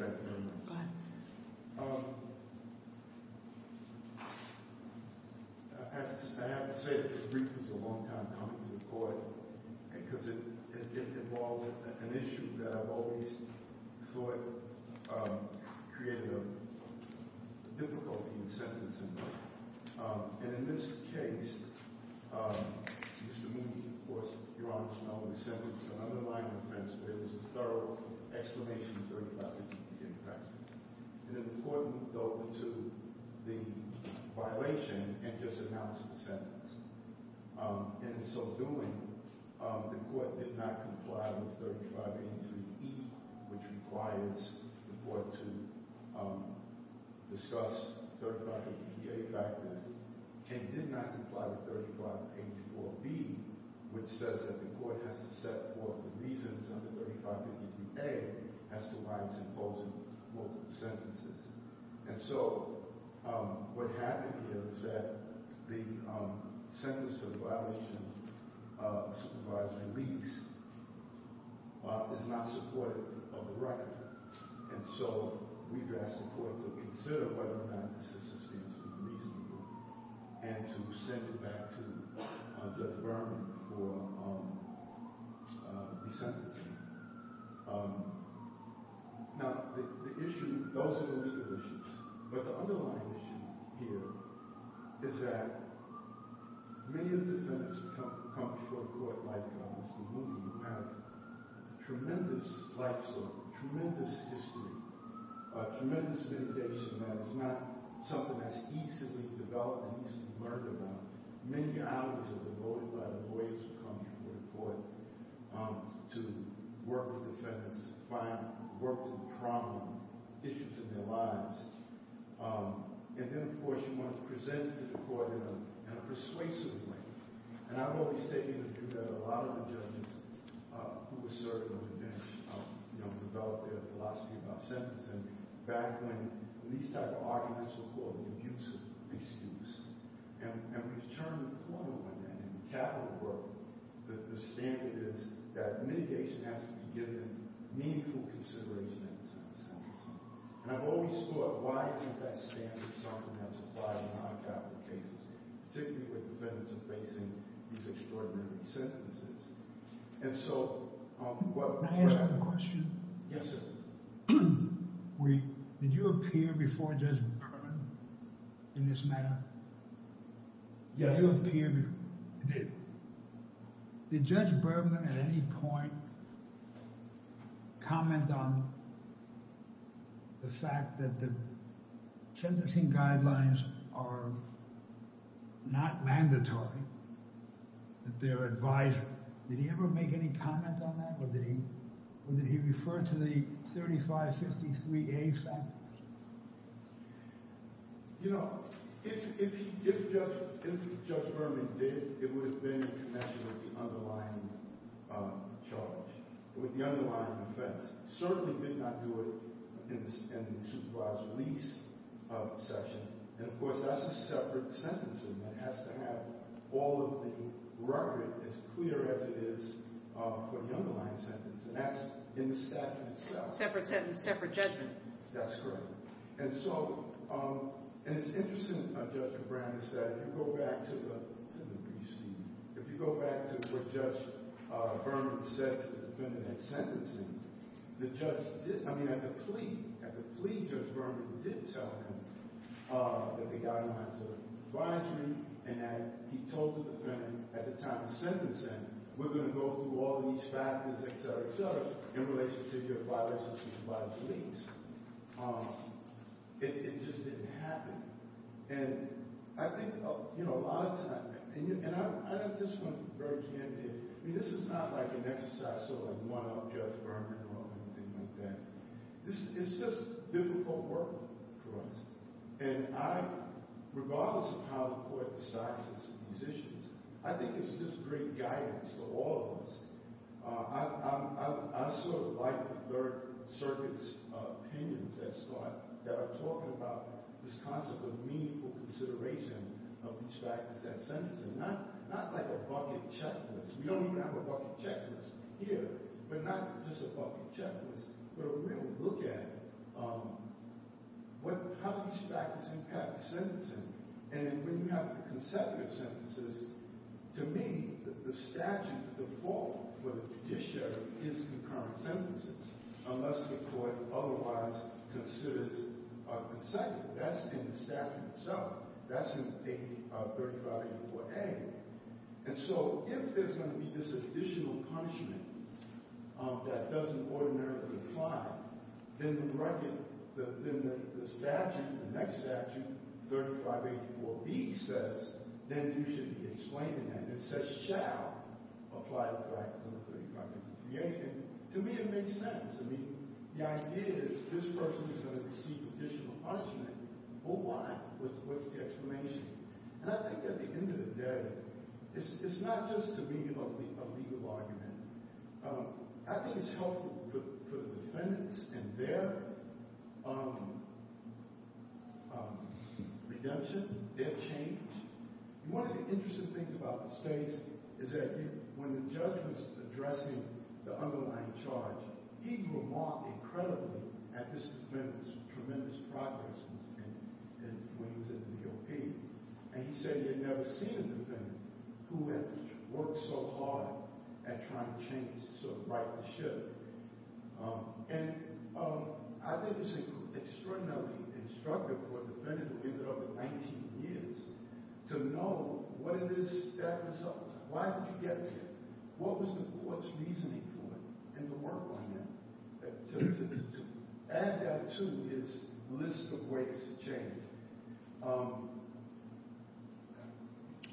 I have to say that this brief was a long time coming to the court because it involves an issue that I've always thought created a difficulty in sentencing, and in this case, Mr. Moody of course, your Honor's not only sentenced an underlying offense, but it was a thorough exclamation of 3583B in practice. And then the court moved over to the violation and just announced the sentence. In so doing, the court did not comply with 3583E, which requires the court to which says that the court has to set forth the reasons under 3583A as to why it's imposing multiple sentences. And so what happened here is that the sentence for the violation of supervised release is not supportive of the record. And so we've asked the court to consider whether or not the system stands to be reasonable, and to send it back to Judge Berman for resentencing. Now the issue, those are the legal issues, but the underlying issue here is that many of the defendants who come before the court, like Mr. Moody, have tremendous life story, tremendous history, tremendous mitigation, and it's not something that's easily developed and easily learned about. Many hours are devoted by the lawyers who come before the court to work with defendants, work through the problems, issues in their lives. And then of course, you want to present it to the court in a persuasive way. And I've always taken the view that a lot of the judges who were serving on the bench developed their philosophy about sentencing back when these type of arguments were called an abusive excuse. And we've turned the corner on that. In the capital world, the standard is that mitigation has to be given meaningful consideration at the time of sentencing. And I've always thought, why isn't that standard something that's applied in non-capital cases, particularly when defendants are facing these extraordinary resentences? And so, what... Can I ask you a question? Yes, sir. Did you appear before Judge Berman in this matter? Yes, I did. Did Judge Berman at any point comment on the fact that the sentencing guidelines are not mandatory, that they're advised? Did he ever make any comment on that? Or did he refer to the 3553A factors? You know, if Judge Berman did, it would have been in connection with the underlying charge, with the underlying offense. He certainly did not do it in the supervised release section. And of course, that's a separate sentencing that has to have all of the record as clear as it is for the underlying sentence. And that's in the statute itself. Separate sentence, separate judgment. That's correct. And so, it's interesting, Judge Berman said, if you go back to the brief, Steve, if you go back to what Judge Berman said to the defendant at sentencing, the judge did... I mean, at the plea, at the plea, Judge Berman did tell him that the guidelines are advisory and that he told the defendant at the time of sentencing, we're going to go through all these factors, et cetera, et cetera, in relation to your supervised release. It just didn't happen. And I think, you know, a lot of times... And I just want to very candidly... I mean, this is not like an exercise to like one-up Judge Berman or anything like that. This is just difficult work for us. And I, regardless of how the court decides these issues, I think it's just great guidance for all of us. I sort of like circuits' opinions that are talking about this concept of meaningful consideration of these factors at sentencing. Not like a bucket checklist. We don't even have a bucket checklist here, but not just a bucket checklist, but a real look at how these factors impact sentencing. And when you have the consecutive sentences, to me, the statute, the default for the judiciary is concurrent sentences, unless the court otherwise considers a consecutive. That's in the statute itself. That's in 3584A. And so if there's going to be this additional punishment that doesn't ordinarily apply, then the statute, the next statute, 3584B says, then you should be explaining that. It says, shall apply the practice under 3583A. To me, it makes sense. I mean, the idea is this person is going to receive additional punishment. Well, why? What's the explanation? And I think at the end of the day, it's not just a legal argument. I think it's helpful for the defendants and their redemption, their change. One of the interesting things about the case is that when the judge was addressing the underlying charge, he remarked incredibly at this defendant's tremendous progress when he was in the DOP. And he said he had never seen a defendant who had worked so hard at trying to change, to sort of right the shit. And I think it's extraordinarily instructive for a defendant to live another 19 years to know what it is that results. Why did he get there? What was the court's reasoning for it and the work on that? To add that to his list of ways to change.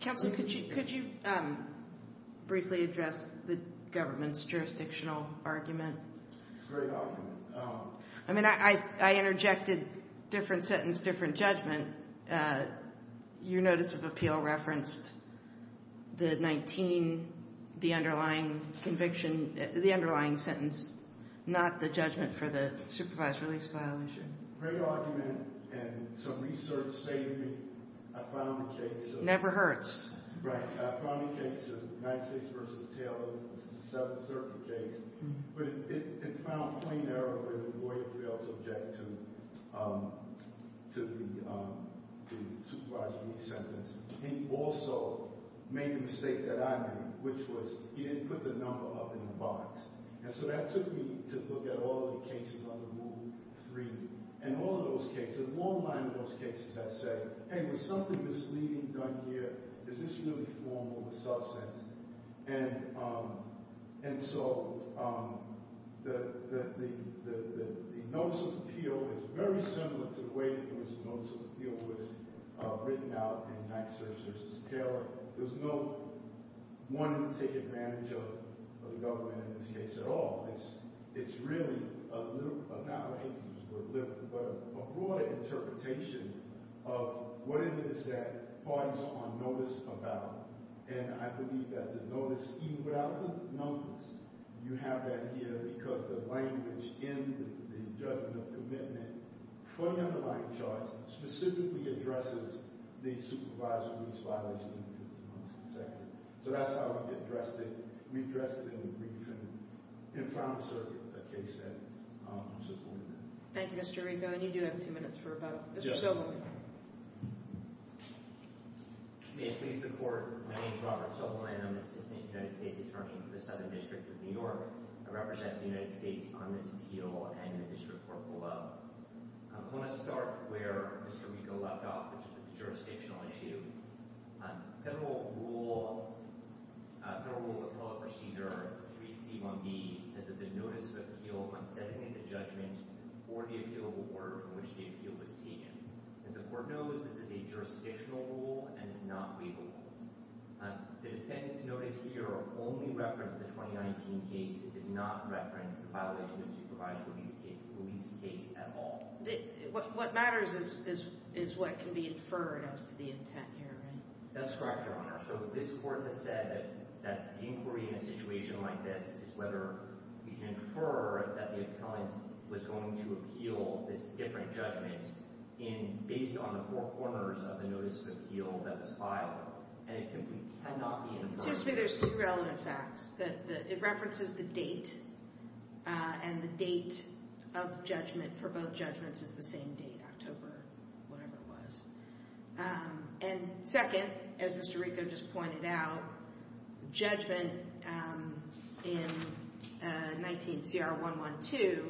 Counsel, could you briefly address the government's jurisdictional argument? Great argument. I mean, I interjected different sentence, different judgment. Your notice of appeal referenced the 19, the underlying conviction, the underlying sentence, not the judgment for the supervised release violation. Great argument, and some research saved me. I found the case. Never hurts. Right. I found the case of United States v. Taylor. But it found a plain error where the lawyer failed to object to the supervised release sentence. He also made a mistake that I made, which was he didn't put the number up in the box. And so that took me to look at all the cases under Rule 3. And all of those cases, a long line of those cases, I said, hey, was something misleading done here? Is this really formal or substantial? And so the notice of appeal is very similar to the way the notice of appeal was written out in United States v. Taylor. There's no one to take advantage of the government in this case at all. It's really a broader interpretation of what it is that parties are on notice about. And I believe that the notice, even without the numbers, you have that here because the language in the judgment of commitment for the underlying charge specifically addresses the supervised release violation in the 51st consecutive. So that's how we addressed it. We addressed it in the briefing in front of the circuit, the case said. Thank you, Mr. Rico. And you do have two minutes for a follow-up. Mr. Sobolan. May it please the Court. My name is Robert Sobolan. I'm the Assistant United States Attorney for the Southern District of New York. I represent the United States on this appeal and the District Court below. I want to start where Mr. Rico left off, which is the jurisdictional issue. Federal Rule of Appellate Procedure 3C1B says that the notice of appeal must designate the judgment or the appealable order in which the appeal was taken. As the Court knows, this is a jurisdictional rule and it's not waivable. The defendant's notice here only referenced the 2019 case. It did not reference the violation of the supervised release case at all. What matters is what can be inferred as to the intent here, right? That's correct, Your Honor. So this Court has said that the inquiry in a situation like this is whether we can infer that the appellant was going to appeal this different judgment based on the four corners of the notice of appeal that was filed. And it simply cannot be inferred. Well, it seems to me there's two relevant facts. It references the date and the date of judgment for both judgments is the same date, October, whatever it was. And second, as Mr. Rico just pointed out, the judgment in 19CR112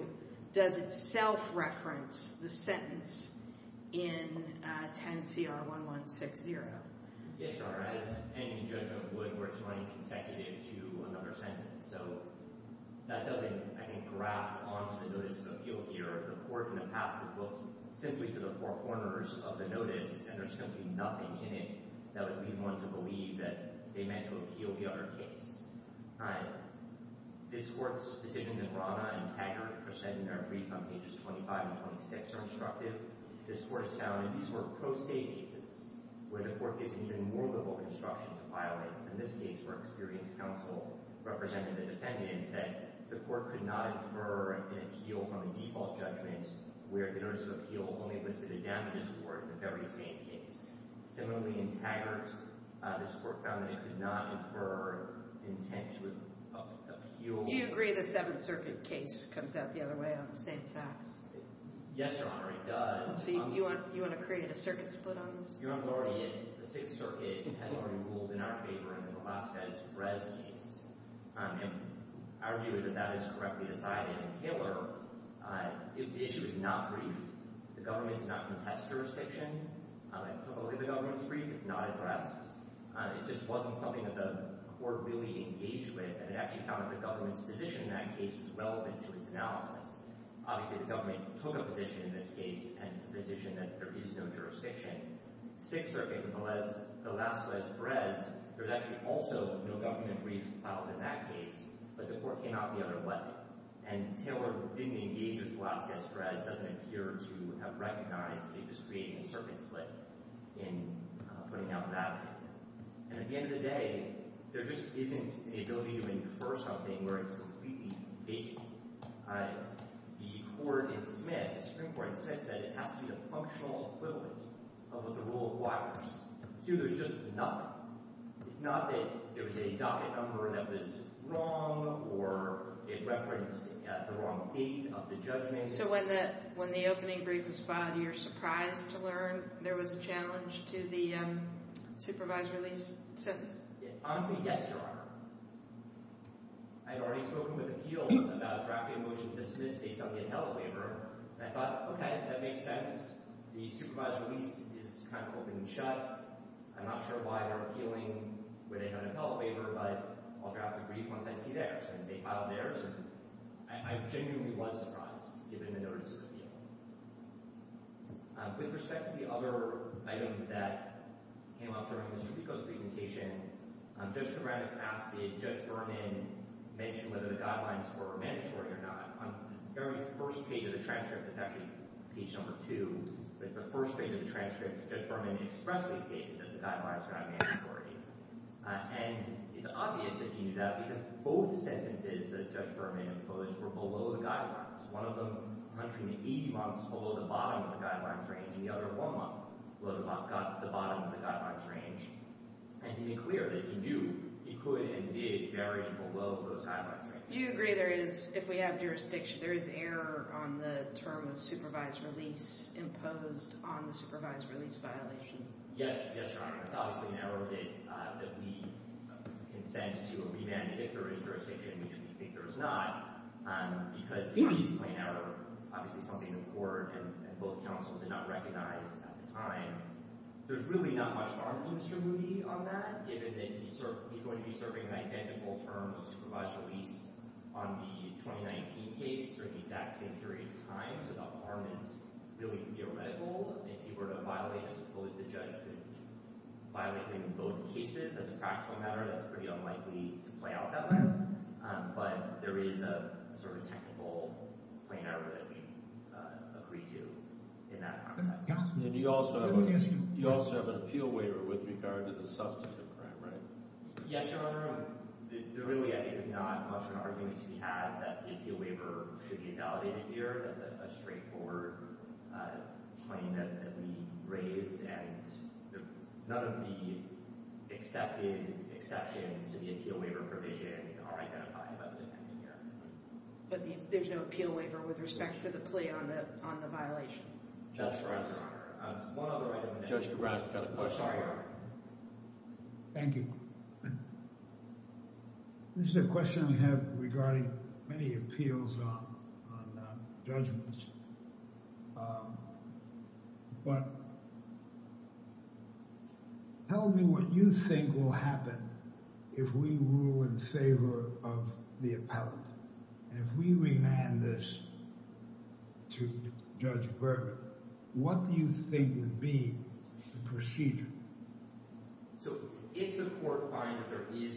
does itself reference the sentence in 10CR1160. Yes, Your Honor. As any judgment would, where it's running consecutive to another sentence. So that doesn't, I think, graft onto the notice of appeal here. The Court in the past has looked simply to the four corners of the notice and there's simply nothing in it that would lead one to believe that they meant to appeal the other case. All right. This Court's decisions in Rana and Taggart are said in their brief on pages 25 and 26 are instructive. This Court has found that these were pro se cases where the Court gives even more liberal instruction to file it. In this case, where experienced counsel represented the defendant, that the Court could not infer an appeal from a default judgment where the notice of appeal only listed a damages award in the very same case. Similarly, in Taggart, this Court found that it could not infer intent to appeal. Do you agree the Seventh Circuit case comes out the other way on the same facts? Yes, Your Honor, it does. So you want to create a circuit split on this? Your Honor, the Sixth Circuit has already ruled in our favor in the Velazquez-Rez case. Our view is that that is correctly decided. In Taylor, the issue is not briefed. The government's not contest jurisdiction. I don't believe the government's briefed. It's not addressed. It just wasn't something that the Court really engaged with and it actually found that the government's position in that case was Obviously, the government took a position in this case and it's a position that there is no jurisdiction. Sixth Circuit with the Velazquez-Rez, there's actually also no government brief filed in that case, but the Court came out the other way. And Taylor didn't engage with Velazquez-Rez, doesn't appear to have recognized that they're just creating a circuit split in putting out that. And at the end of the day, there just isn't an ability to infer something where it's completely vacant. The Court in Smith, the Supreme Court in Smith said it has to be the functional equivalent of the rule of wires. Here, there's just nothing. It's not that there was a docket number that was wrong or it referenced the wrong date of the judgment. So when the opening brief was filed, you're surprised to learn there was a challenge to the supervised release sentence? Honestly, yes, I had already spoken with appeals about a traffic motion to dismiss based on the inhalant waiver and I thought, okay, that makes sense. The supervised release is kind of holding shut. I'm not sure why they're appealing with a kind of inhalant waiver, but I'll draft the brief once I see theirs and they file theirs. I genuinely was surprised given the notice of appeal. With respect to the other items that came up during Mr. Pico's presentation, Judge Kourambas asked, did Judge Berman mention whether the guidelines were mandatory or not? On the very first page of the transcript, it's actually page number two, but the first page of the transcript, Judge Berman expressly stated that the guidelines were not mandatory. And it's obvious that he knew that because both the sentences that Judge Berman proposed were below the guidelines. One of them, I'm not sure, in the 80 months, below the bottom of the guidelines and the other one month was about the bottom of the guidelines range. And he made clear that he knew he could and did vary below those guidelines. Do you agree there is, if we have jurisdiction, there is error on the term of supervised release imposed on the supervised release violation? Yes, yes, Your Honor. It's obviously an error that we consent to a remand if there is jurisdiction, which we think there is not, because it's not an easy plain error. Obviously, something the Supreme Court did not recognize at the time. There's really not much argument to be made on that, given that he's going to be serving an identical term of supervised release on the 2019 case for the exact same period of time. So the harm is really theoretical. If he were to violate, I suppose the judge could violate him in both cases as a practical matter. That's pretty unlikely to be an error that we agree to in that context. And you also have an appeal waiver with regard to the substantive crime, right? Yes, Your Honor. There really is not much of an argument to be had that the appeal waiver should be validated here. That's a straightforward claim that we raised and none of the accepted exceptions to the appeal waiver provision are identified by the defending but there's no appeal waiver with respect to the plea on the on the violation. Thank you. This is a question I have regarding many appeals on judgments, but tell me what you think will happen if we rule in favor of the appellate and if we remand this to Judge Berman. What do you think would be the procedure? So if the court finds that there is is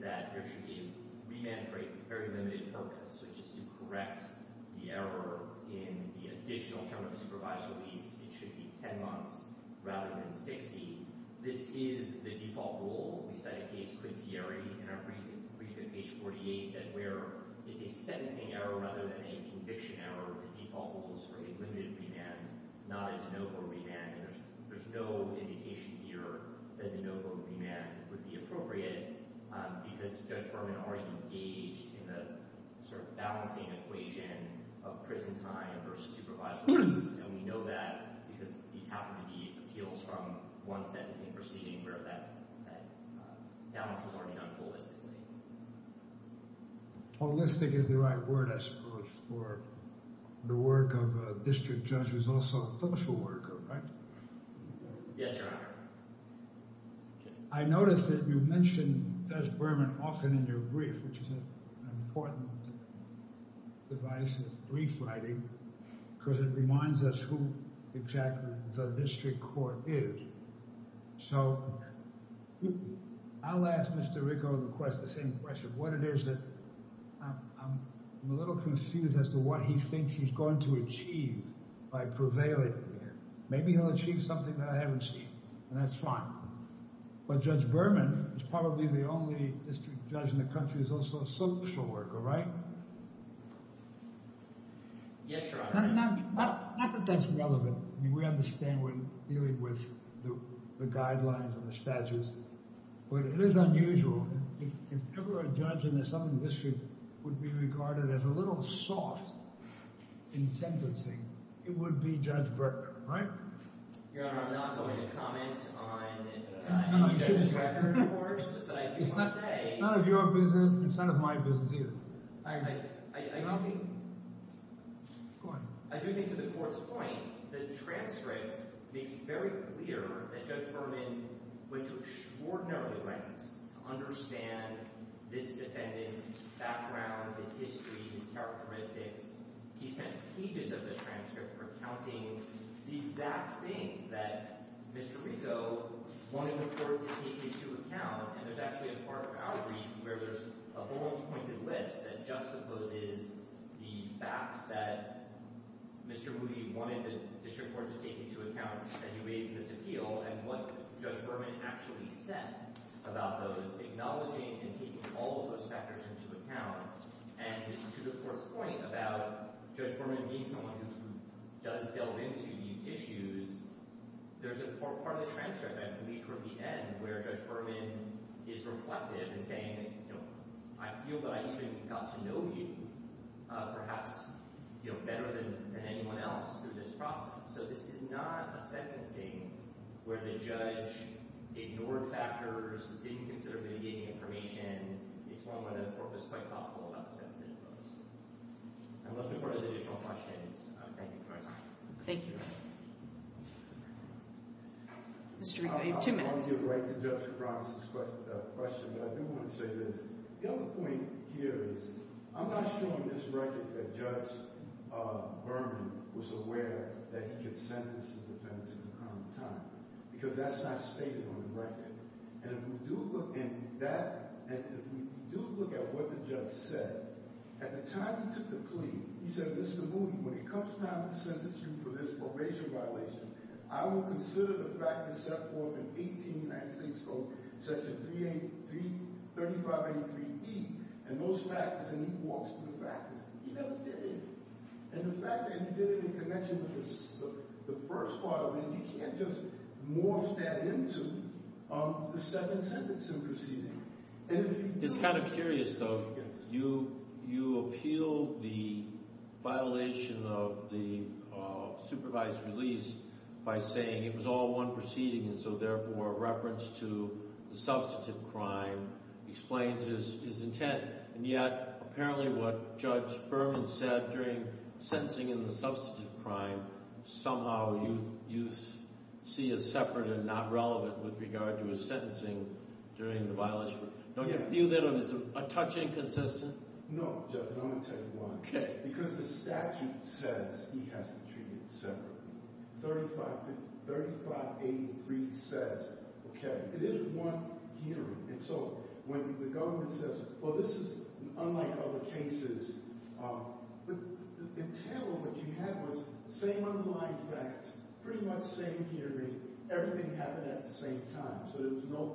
that there should be remand for a very limited purpose. So just to correct the error in the additional term of supervised release, it should be 10 months rather than 60. This is the default rule. We cite a case in our brief at page 48 where it's a sentencing error rather than a conviction error. The default rule is for a limited remand, not a de novo remand. There's no indication here that de novo remand would be appropriate because Judge Berman already engaged in the sort of balancing equation of prison time versus supervised release and we know that because these happen to be appeals from one sentencing proceeding where that balance was already done holistically. Holistic is the right word I suppose for the work of a district judge who's also a political worker, right? Yes, Your Honor. I noticed that you mentioned Judge Berman often in your brief which is an important device of brief writing because it reminds us who exactly the district court is. So I'll ask Mr. Ricco the same question. What it is that I'm a little confused as to what he thinks he's going to achieve by prevailing there. Maybe he'll achieve something that I haven't seen and that's fine. But Judge Berman is probably the only district judge in the country who's also a social worker, right? Yes, Your Honor. Not that that's relevant. We understand we're dealing with the guidelines and the statutes, but it is unusual. If ever a judge in the Southern District would be regarded as a little soft in sentencing, it would be Judge Berman, right? Your Honor, I'm not going to comment on any judge's record of course, but I do want to say... It's not of your business, it's not of my business either. I do think... Go ahead. I do think to the court's point that transcript makes it very clear that Judge Berman went to extraordinary lengths to understand this defendant's background, his history, his characteristics. He spent pages of the transcript recounting the exact things that Mr. Ricco wanted the court to take into account. And there's actually a part of our brief where there's a almost pointed list that juxtaposes the facts that Mr. Moody wanted the District Court to take into account as he raised this appeal and what Judge Berman actually said about those, acknowledging and taking all of those factors into account. And to the court's point about Judge Berman being someone who does delve into these issues, there's a part of the transcript, I believe, from the end where Judge Berman is reflective and saying that, you know, I feel that I even got to know you perhaps, you know, better than anyone else through this process. So this is not a sentencing where the judge ignored factors, didn't consider mitigating information. It's one where the court was quite thoughtful about the sentencing process. Unless the court has additional questions, I thank you for your time. Thank you. Mr. Ricco, you have two minutes. I want to give right to Judge Cronin's question, but I do want to say this. The other point here is I'm not sure you misrecorded that Judge Berman was aware that he could sentence the defendants in the common time, because that's not stated on the record. And if we do look at that, and if we do look at what the judge said, at the time he took the plea, he said, Mr. Moody, when it comes time to sentence you for this probation violation, I will consider the factors set forth in 1896 Code Section 3583E and those factors. And he walks through the factors. He never did it. And the fact that he did it in connection with the first part of it, you can't just morph that into the second sentence in proceeding. It's kind of curious though, you appealed the violation of the supervised release by saying it was all one proceeding, and so therefore a reference to the substantive crime explains his intent. And yet, apparently what Judge Berman said during sentencing in the substantive crime, somehow you see as separate and not relevant with regard to his sentencing during the violation. Don't you feel that it was a touch inconsistent? No, Judge, and I'm going to tell you why. Okay. Because the statute says he has to treat it separately. 3583 says, okay, it is one hearing. And so when the government says, well, this is unlike other cases, but the intent of what you had was the same underlying fact, pretty much the same hearing, everything happened at the same time. So there was no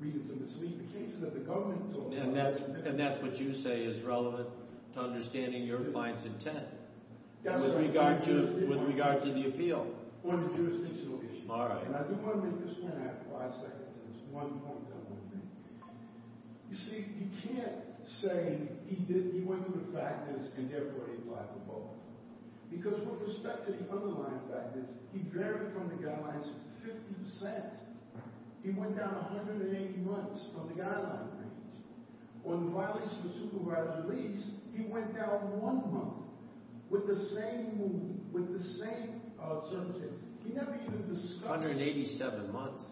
reason to mislead the cases that the government told us. And that's what you say is relevant to understanding your client's intent with regard to the appeal. On the jurisdictional issue. All right. And I do want to make this one after five seconds, and it's one point I want to make. You see, you can't say he went to the factness and therefore he applied for parole. Because with respect to the underlying factness, he varied from the guidelines 50%. He went down 180 months from the guideline range. On the violation of supervised release, he went down one month with the same move, with the same circumstances. He never even discussed... 187 months.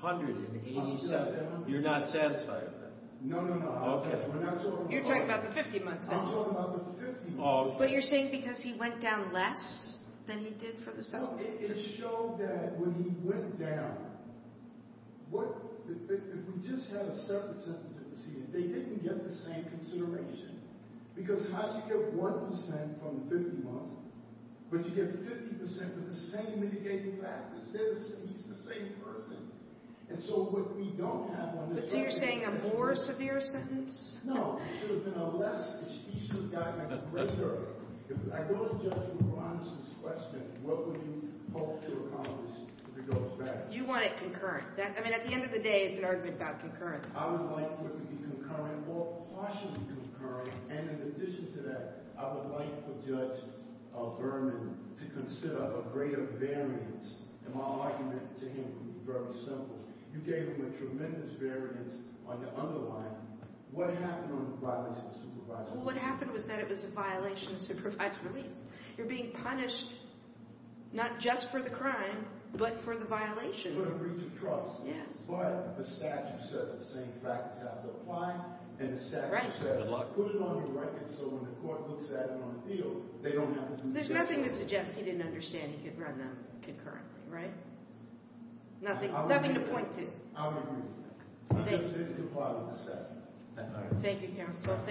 187. You're not satisfied with that? No, no, no. Okay. We're not talking about... You're talking about the 50 months. I'm talking about the 50 months. But you're saying because he went down less than he did for the sentence that preceded it, they didn't get the same consideration. Because how do you get 1% from 50 months, but you get 50% with the same mitigating factors? He's the same person. And so what we don't have on this... So you're saying a more severe sentence? No. It should have been a less... If I go to Judge Moranis' question, what would he hope to accomplish if he goes back? Do you want it concurrent? I mean, at the end of the day, it's an argument about concurrent. I would like for it to be concurrent, or partially concurrent. And in addition to that, I would like for Judge Berman to consider a greater variance. And my argument to him would be very simple. You gave him a tremendous variance on the underlying. What happened on the violation of supervised release? Well, what happened was that it was a violation of supervised release. You're being punished, not just for the crime, but for the violation. For the breach of trust. Yes. But the statute says the same factors have to apply, and the statute says put it on your record so when the court looks at it on appeal, they don't have to do the same thing. There's nothing to suggest he didn't understand he could run them concurrently, right? Nothing to point to. I would agree with that. He just didn't comply with the statute. Thank you, counsel.